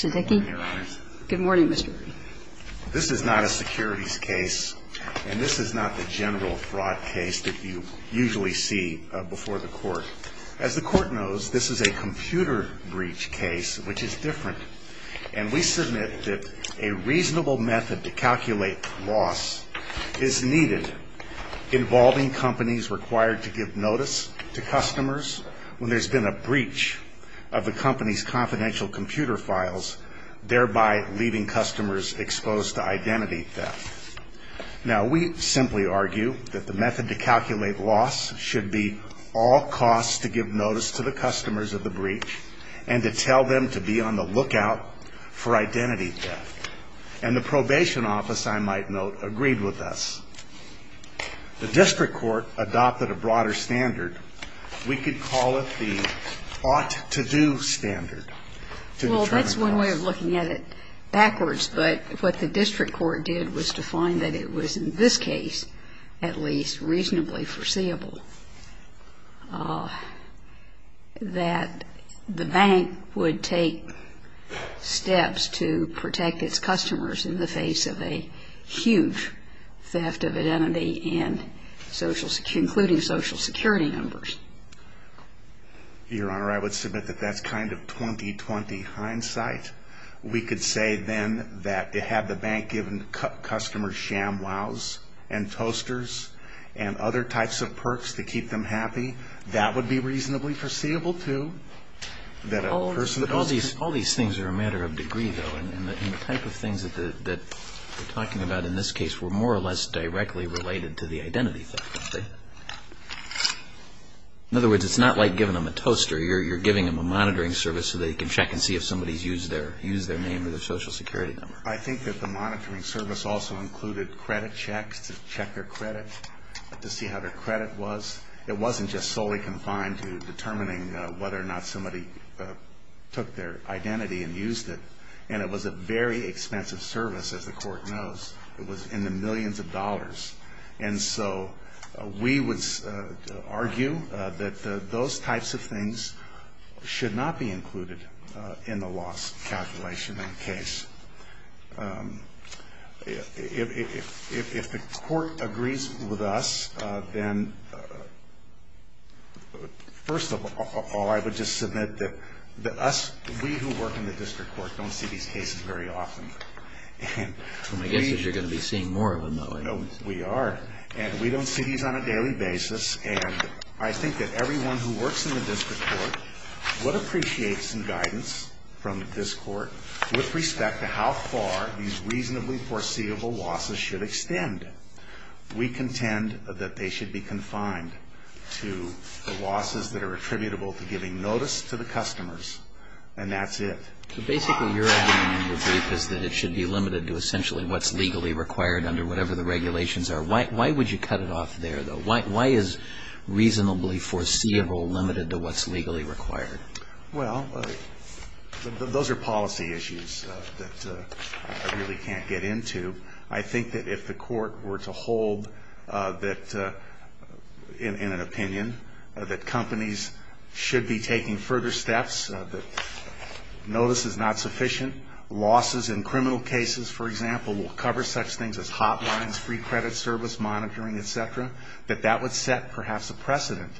Good morning, Mr. This is not a securities case and this is not the general fraud case that you usually see before the court. As the court knows, this is a computer breach case, which is different. And we submit that a reasonable method to calculate loss is needed involving companies required to give notice to customers when there's been a breach of the company's confidential computer files. Thereby leaving customers exposed to identity theft. Now, we simply argue that the method to calculate loss should be all costs to give notice to the customers of the breach and to tell them to be on the lookout for identity theft. And the probation office, I might note, agreed with us. The district court adopted a broader standard. We could call it the ought to do standard. Well, that's one way of looking at it backwards. But what the district court did was to find that it was in this case at least reasonably foreseeable that the bank would take steps to protect its customers in the face of a huge theft of identity and social security, including social security numbers. Your Honor, I would submit that that's kind of 2020 hindsight. We could say then that to have the bank given customers shamwows and toasters and other types of perks to keep them happy, that would be reasonably foreseeable too. All these things are a matter of degree though. And the type of things that we're talking about in this case were more or less directly related to the identity theft. In other words, it's not like giving them a toaster. You're giving them a monitoring service so they can check and see if somebody's used their name or their social security number. I think that the monitoring service also included credit checks to check their credit, to see how their credit was. It wasn't just solely confined to determining whether or not somebody took their identity and used it. And it was a very expensive service, as the court knows. It was in the millions of dollars. And so we would argue that those types of things should not be included in the loss calculation in the case. If the court agrees with us, then first of all, I would just submit that we who work in the district court don't see these cases very often. My guess is you're going to be seeing more of them though. We are. And we don't see these on a daily basis. And I think that everyone who works in the district court would appreciate some guidance from this court with respect to how far these reasonably foreseeable losses should extend. We contend that they should be confined to the losses that are attributable to giving notice to the customers. And that's it. So basically your argument in the brief is that it should be limited to essentially what's legally required under whatever the regulations are. Why would you cut it off there, though? Why is reasonably foreseeable limited to what's legally required? Well, those are policy issues that I really can't get into. I think that if the court were to hold that, in an opinion, that companies should be taking further steps, that notice is not sufficient. Losses in criminal cases, for example, will cover such things as hotlines, free credit service monitoring, et cetera, that that would set perhaps a precedent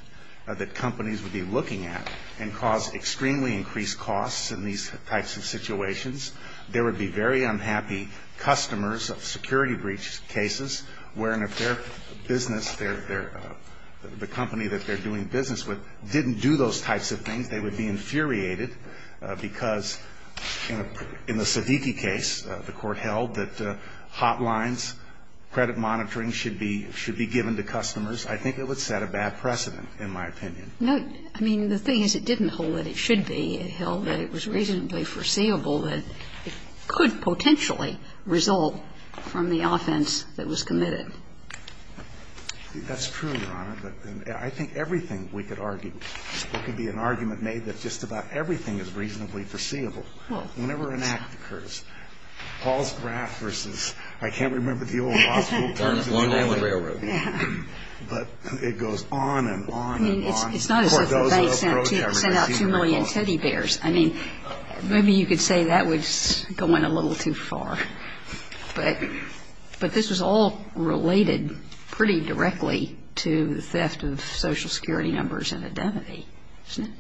that companies would be looking at in causing losses. And that would cause extremely increased costs in these types of situations. There would be very unhappy customers of security breach cases wherein if their business, the company that they're doing business with, didn't do those types of things, they would be infuriated because in the Siddiqui case, the court held that hotlines, credit monitoring should be given to customers. I think it would set a bad precedent, in my opinion. No, I mean, the thing is it didn't hold that it should be. It held that it was reasonably foreseeable that it could potentially result from the offense that was committed. That's true, Your Honor, but I think everything we could argue, there could be an argument made that just about everything is reasonably foreseeable. Whenever an act occurs, Paul's graft versus, I can't remember the old law school terms, but it goes on and on and on. It's not as if the bank sent out 2 million teddy bears. I mean, maybe you could say that was going a little too far. But this was all related pretty directly to the theft of social security numbers and identity, isn't it?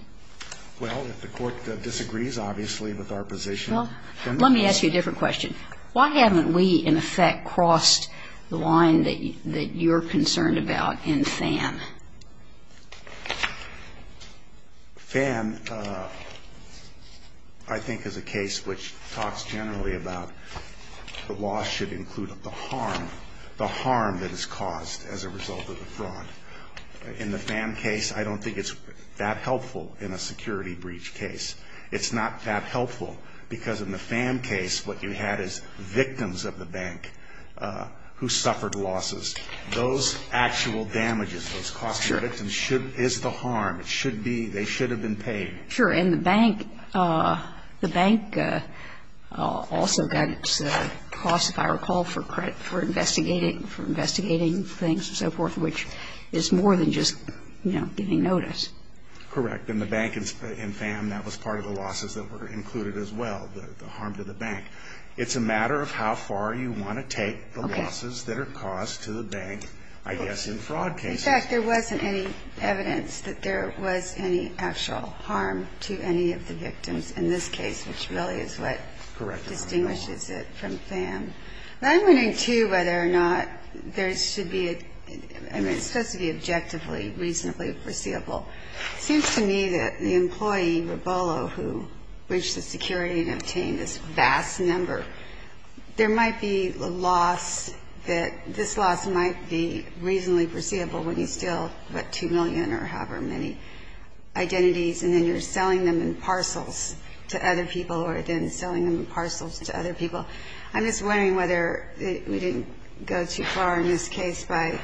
Well, if the court disagrees, obviously, with our position. Well, let me ask you a different question. Why haven't we, in effect, crossed the line that you're concerned about in FAN? FAN, I think, is a case which talks generally about the law should include the harm, the harm that is caused as a result of the fraud. In the FAN case, I don't think it's that helpful in a security breach case. It's not that helpful because in the FAN case, what you had is victims of the bank who suffered losses. Those actual damages, those costs to the victims should be the harm. It should be, they should have been paid. Sure. And the bank, the bank also got its costs, if I recall, for investigating, for investigating things and so forth, which is more than just, you know, getting notice. Correct. And the bank in FAN, that was part of the losses that were included as well, the harm to the bank. It's a matter of how far you want to take the losses that are caused to the bank, I guess, in fraud cases. In fact, there wasn't any evidence that there was any actual harm to any of the victims in this case, which really is what distinguishes it from FAN. Now, I'm wondering, too, whether or not there should be a, I mean, it's supposed to be objectively reasonably foreseeable. It seems to me that the employee, Rabollo, who breached the security and obtained this vast number, there might be a loss that this loss might be reasonably foreseeable when you steal, what, 2 million or however many identities, and then you're selling them in parcels to other people or then selling them in parcels to other people. I'm just wondering whether we didn't go too far in this case by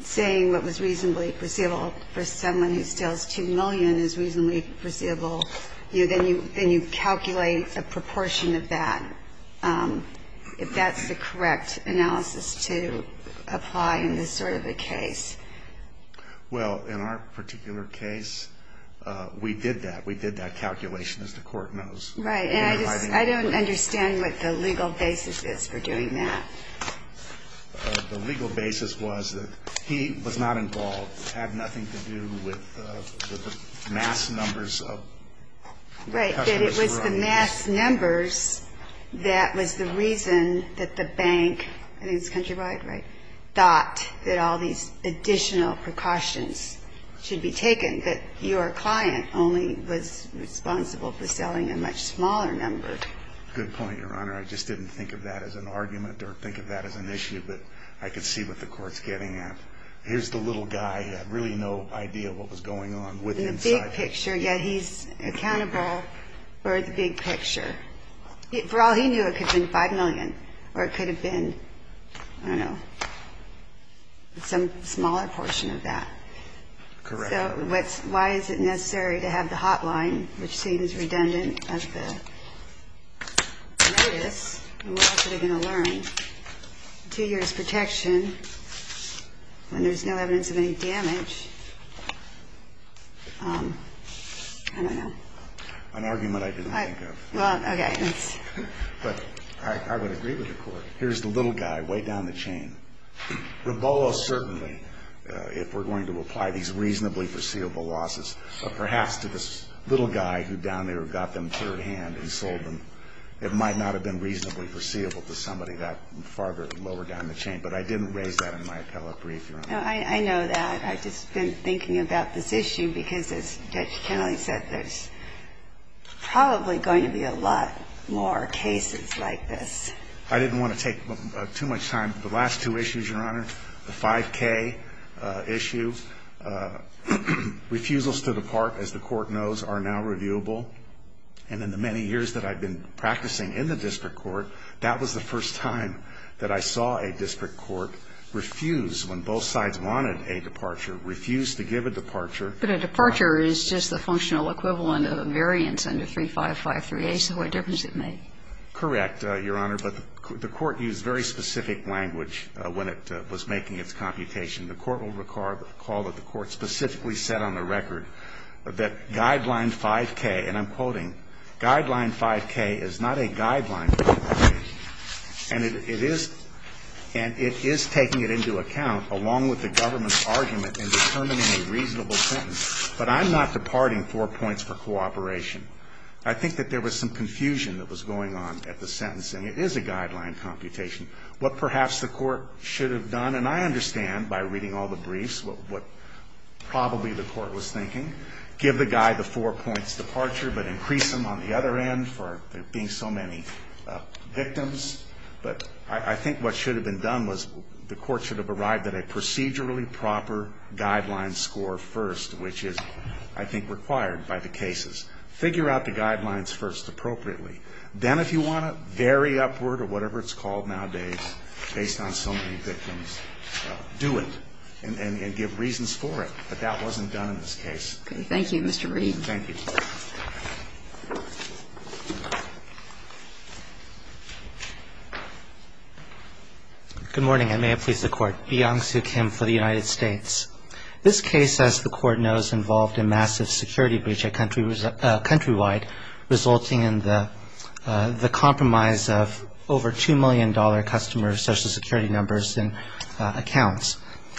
saying what was reasonably foreseeable for someone who steals 2 million is reasonably foreseeable. You know, then you calculate a proportion of that, if that's the correct analysis to apply in this sort of a case. Well, in our particular case, we did that. We did that calculation, as the Court knows. Right. And I just don't understand what the legal basis is for doing that. The legal basis was that he was not involved, had nothing to do with the mass numbers of customers who were on the list. Right. That it was the mass numbers that was the reason that the bank, I think it's Countrywide, right, thought that all these additional precautions should be taken, that your client only was responsible for selling a much smaller number. Good point, Your Honor. I just didn't think of that as an argument or think of that as an issue, but I could see what the Court's getting at. Here's the little guy. He had really no idea what was going on with him. The big picture, yeah, he's accountable for the big picture. For all he knew, it could have been 5 million or it could have been, I don't know, some smaller portion of that. Correct. So why is it necessary to have the hotline, which seems redundant as the notice, and what else are they going to learn? Two years' protection when there's no evidence of any damage. I don't know. An argument I didn't think of. Well, okay. But I would agree with the Court. Here's the little guy, way down the chain. Rebolo certainly, if we're going to apply these reasonably foreseeable losses, perhaps to this little guy who down there got them third-hand and sold them, it might not have been reasonably foreseeable to somebody that farther lower down the chain. But I didn't raise that in my appellate brief, Your Honor. I know that. I've just been thinking about this issue because, as Judge Kennelly said, there's probably going to be a lot more cases like this. I didn't want to take too much time. The last two issues, Your Honor, the 5K issue, refusals to depart, as the Court knows, are now reviewable. And in the many years that I've been practicing in the district court, that was the first time that I saw a district court refuse, when both sides wanted a departure, refuse to give a departure. But a departure is just the functional equivalent of a variance under 3553A. So what difference does it make? Correct, Your Honor. But the Court used very specific language when it was making its computation. The Court will recall that the Court specifically said on the record that Guideline 5K, and I'm quoting, Guideline 5K is not a guideline property, and it is taking it into account along with the government's argument in determining a reasonable sentence. But I'm not departing four points for cooperation. I think that there was some confusion that was going on at the sentencing. It is a guideline computation. What perhaps the Court should have done, and I understand by reading all the briefs what probably the Court was thinking, give the guy the four points departure, but increase them on the other end for there being so many victims. But I think what should have been done was the Court should have arrived at a procedurally proper guideline score first, which is, I think, required by the cases. Figure out the guidelines first appropriately. Then if you want to vary upward or whatever it's called nowadays based on so many victims, do it and give reasons for it. But that wasn't done in this case. Thank you. Thank you, Mr. Reed. Thank you. Good morning. I may have pleased the Court. Byung Soo Kim for the United States. This case, as the Court knows, involved a massive security breach countrywide resulting in the compromise of over $2 million customer social security numbers and accounts.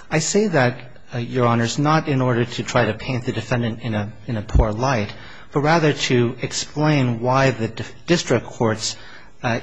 I say that, Your Honors, not in order to try to paint the defendant in a poor light, but rather to explain why the district court's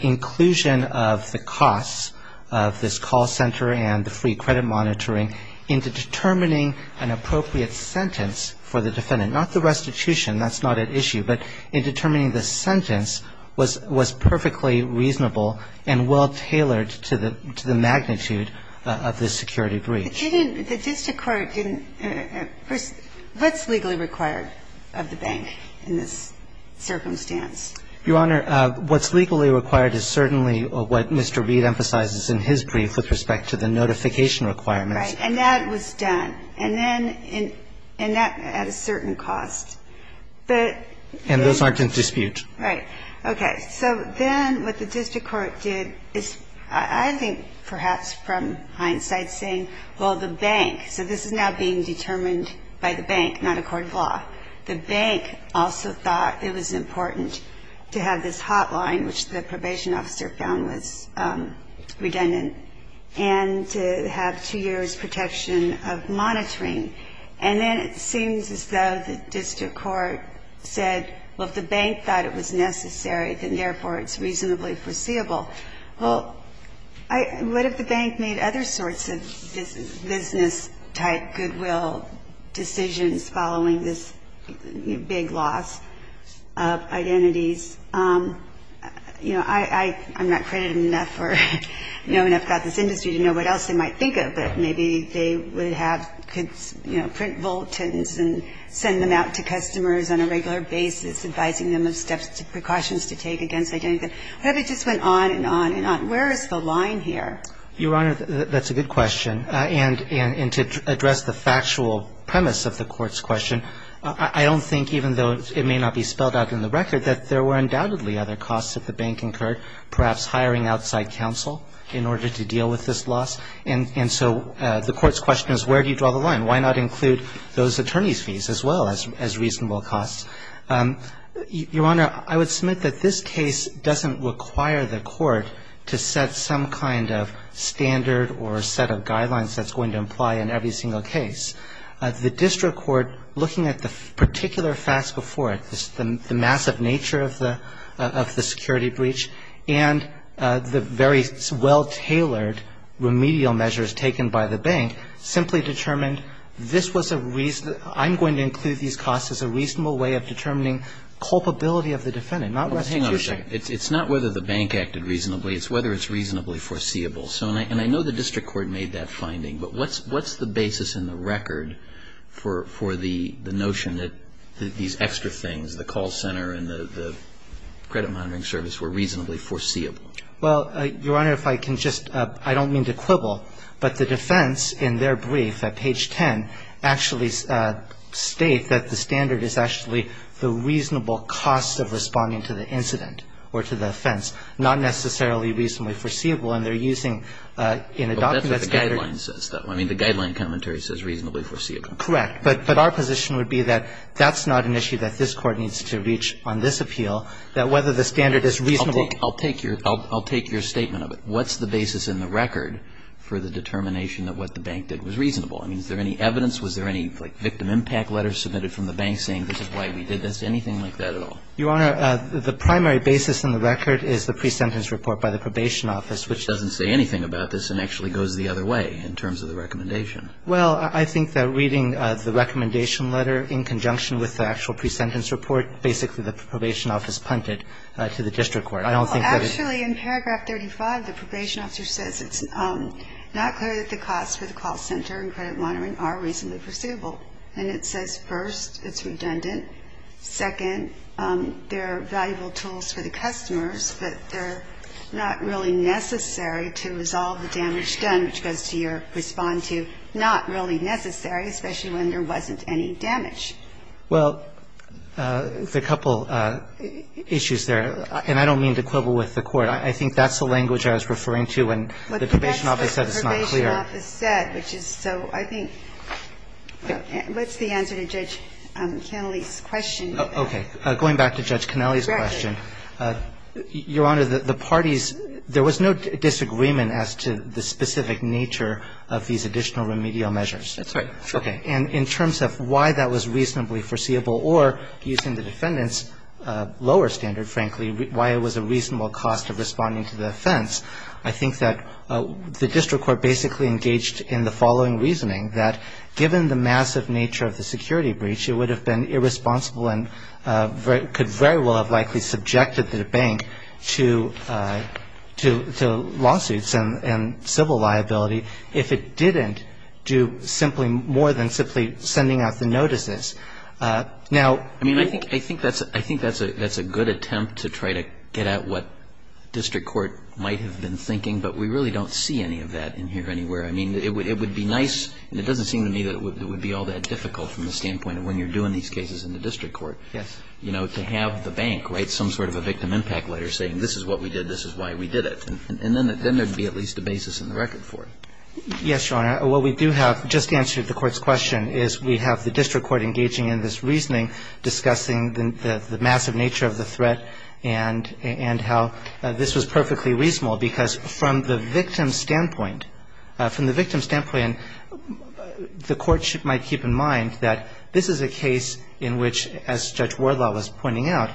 inclusion of the costs of this call center and the free credit monitoring into determining an appropriate sentence for the defendant, not the restitution. That's not at issue. But in determining the sentence was perfectly reasonable and well-tailored to the magnitude of the security breach. The district court didn't at first. What's legally required of the bank in this circumstance? Your Honor, what's legally required is certainly what Mr. Reed emphasizes in his brief with respect to the notification requirements. Right. And that was done. And then at a certain cost. And those aren't in dispute. Right. Okay. So then what the district court did is I think perhaps from hindsight saying, well, the bank, so this is now being determined by the bank, not a court of law. The bank also thought it was important to have this hotline, which the probation officer found was redundant, and to have two years' protection of monitoring. And then it seems as though the district court said, well, if the bank thought it was necessary, then therefore it's reasonably foreseeable. Well, what if the bank made other sorts of business-type goodwill decisions following this big loss of identities? You know, I'm not credited enough or known enough about this industry to know what else they might think of, but maybe they would have, could, you know, print bulletins and send them out to customers on a regular basis, advising them of steps, precautions to take against identity. It just went on and on and on. Where is the line here? Your Honor, that's a good question. And to address the factual premise of the Court's question, I don't think even though it may not be spelled out in the record, that there were undoubtedly other costs that the bank incurred, perhaps hiring outside counsel in order to deal with this loss. And so the Court's question is where do you draw the line? Why not include those attorneys' fees as well as reasonable costs? Your Honor, I would submit that this case doesn't require the Court to set some kind of standard or set of guidelines that's going to imply in every single case. The district court, looking at the particular facts before it, the massive nature of the security breach, and the very well-tailored remedial measures taken by the bank, simply determined this was a reason, I'm going to include these costs as a reasonable way of determining culpability of the defendant, not restitution. Well, hang on a second. It's not whether the bank acted reasonably. It's whether it's reasonably foreseeable. And I know the district court made that finding, but what's the basis in the record for the notion that these extra things, the call center and the credit monitoring service, were reasonably foreseeable? Well, Your Honor, if I can just – I don't mean to quibble, but the defense in their brief at page 10 actually states that the standard is actually the reasonable cost of responding to the incident or to the offense, not necessarily reasonably And they're using in adopting that standard – Well, that's what the guideline says, though. I mean, the guideline commentary says reasonably foreseeable. Correct. But our position would be that that's not an issue that this Court needs to reach on this appeal, that whether the standard is reasonable – I'll take your statement of it. What's the basis in the record for the determination that what the bank did was reasonable? I mean, is there any evidence? Was there any, like, victim impact letter submitted from the bank saying this is why we did this? Anything like that at all? Your Honor, the primary basis in the record is the pre-sentence report by the probation office, which doesn't say anything about this and actually goes the other way in terms of the recommendation. Well, I think that reading the recommendation letter in conjunction with the actual pre-sentence report, basically the probation office punted to the district court. I don't think that it's – Well, actually, in paragraph 35, the probation officer says it's not clear that the costs for the call center and credit monitoring are reasonably foreseeable. And it says, first, it's redundant. Second, they're valuable tools for the customers, but they're not really necessary to resolve the damage done, which goes to your respond to, not really necessary, especially when there wasn't any damage. Well, there are a couple issues there. And I don't mean to quibble with the Court. I think that's the language I was referring to when the probation office said it's not clear. So I think – what's the answer to Judge Kennelly's question? Okay. Going back to Judge Kennelly's question, Your Honor, the parties, there was no disagreement as to the specific nature of these additional remedial measures. That's right. Okay. And in terms of why that was reasonably foreseeable or, using the defendant's lower standard, frankly, why it was a reasonable cost of responding to the offense, I think that the district court basically engaged in the following reasoning, that given the massive nature of the security breach, it would have been irresponsible and could very well have likely subjected the bank to lawsuits and civil liability if it didn't do simply more than simply sending out the notices. Now – I mean, I think that's a good attempt to try to get at what district court might have been thinking, but we really don't see any of that in here anywhere. I mean, it would be nice – and it doesn't seem to me that it would be all that difficult from the standpoint of when you're doing these cases in the district court. Yes. You know, to have the bank write some sort of a victim impact letter saying, this is what we did, this is why we did it. And then there would be at least a basis in the record for it. Yes, Your Honor. What we do have, just to answer the court's question, is we have the district court engaging in this reasoning discussing the massive nature of the threat and how this was perfectly reasonable because from the victim's standpoint – from the victim's standpoint, the courts might keep in mind that this is a case in which, as Judge Wardlaw was pointing out,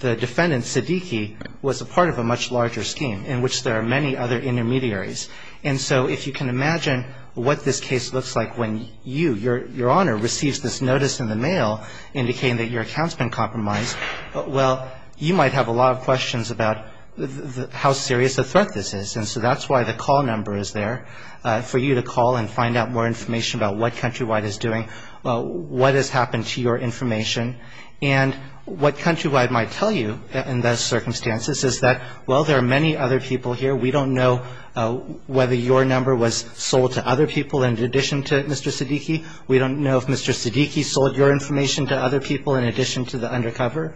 the defendant, Siddiqui, was a part of a much larger scheme in which there are many other intermediaries. And so if you can imagine what this case looks like when you, Your Honor, receives this notice in the mail indicating that your account's been compromised, well, you might have a lot of questions about how serious a threat this is. And so that's why the call number is there for you to call and find out more information about what Countrywide is doing, what has happened to your information. And what Countrywide might tell you in those circumstances is that, well, there are many other people here. We don't know whether your number was sold to other people in addition to Mr. Siddiqui. We don't know if Mr. Siddiqui sold your information to other people in addition to the undercover.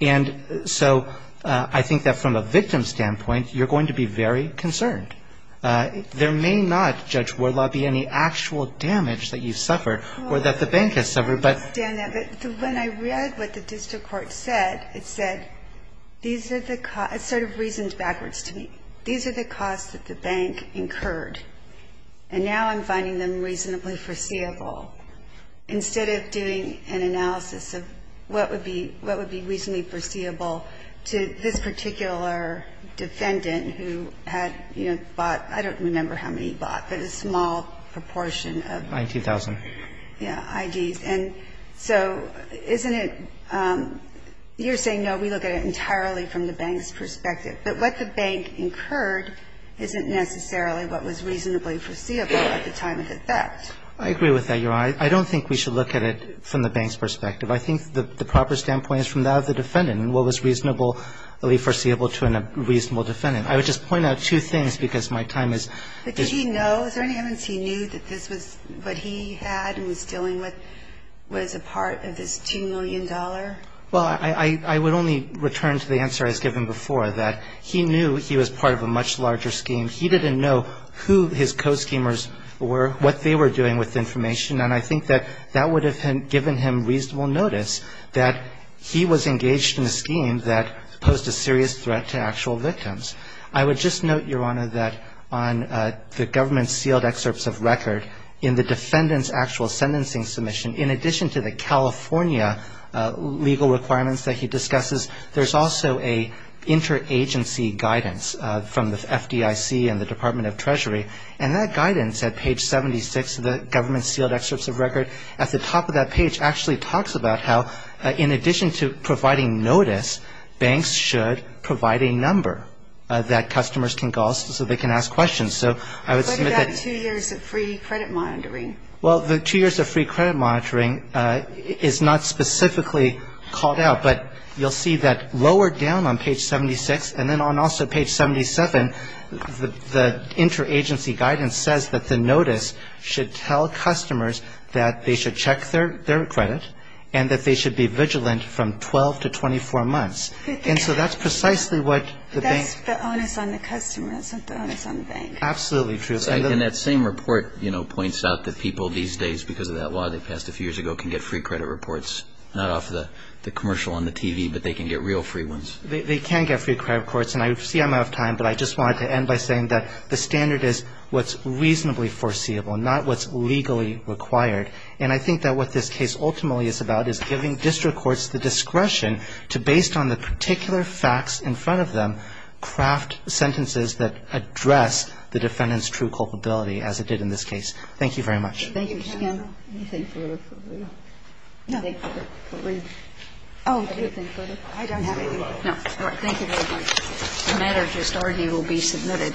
And so I think that from a victim's standpoint, you're going to be very concerned. There may not, Judge Wardlaw, be any actual damage that you suffered or that the bank has suffered. But ---- I understand that. But when I read what the district court said, it said these are the costs. It sort of reasoned backwards to me. These are the costs that the bank incurred. And now I'm finding them reasonably foreseeable. Instead of doing an analysis of what would be reasonably foreseeable to this particular defendant who had, you know, bought, I don't remember how many he bought, but a small proportion of ---- 19,000. Yeah, IDs. And so isn't it ---- you're saying, no, we look at it entirely from the bank's perspective. But what the bank incurred isn't necessarily what was reasonably foreseeable at the time of the theft. I agree with that, Your Honor. I don't think we should look at it from the bank's perspective. I think the proper standpoint is from that of the defendant and what was reasonably foreseeable to a reasonable defendant. I would just point out two things because my time is ---- But did he know? Is there any evidence he knew that this was what he had and was dealing with was a part of this $2 million? Well, I would only return to the answer I was given before, that he knew he was part of a much larger scheme. He didn't know who his co-schemers were, what they were doing with information, and I think that that would have given him reasonable notice that he was engaged in a scheme that posed a serious threat to actual victims. I would just note, Your Honor, that on the government-sealed excerpts of record in the defendant's actual sentencing submission, in addition to the California legal requirements that he discusses, there's also an interagency guidance from the FDIC and the Department of Treasury, and that guidance at page 76 of the government-sealed excerpts of record at the top of that page actually talks about how in addition to providing notice, banks should provide a number that customers can call so they can ask questions. So I would submit that ---- What about two years of free credit monitoring? Well, the two years of free credit monitoring is not specifically called out, but you'll see that lower down on page 76, and then on also page 77, the interagency guidance says that the notice should tell customers that they should check their credit and that they should be vigilant from 12 to 24 months. And so that's precisely what the bank ---- But that's the onus on the customers, not the onus on the bank. Absolutely true. And that same report, you know, points out that people these days, because of that law they passed a few years ago, can get free credit reports, not off the commercial on the TV, but they can get real free ones. They can get free credit reports, and I see I'm out of time, but I just wanted to end by saying that the standard is what's reasonably foreseeable, not what's legally required. And I think that what this case ultimately is about is giving district courts the discretion to, based on the particular facts in front of them, craft sentences that address the defendant's true culpability, as it did in this case. Thank you very much. Thank you. Anything further? No. Anything further? Anything further? I don't have anything. No. All right. Thank you very much. The matter just already will be submitted.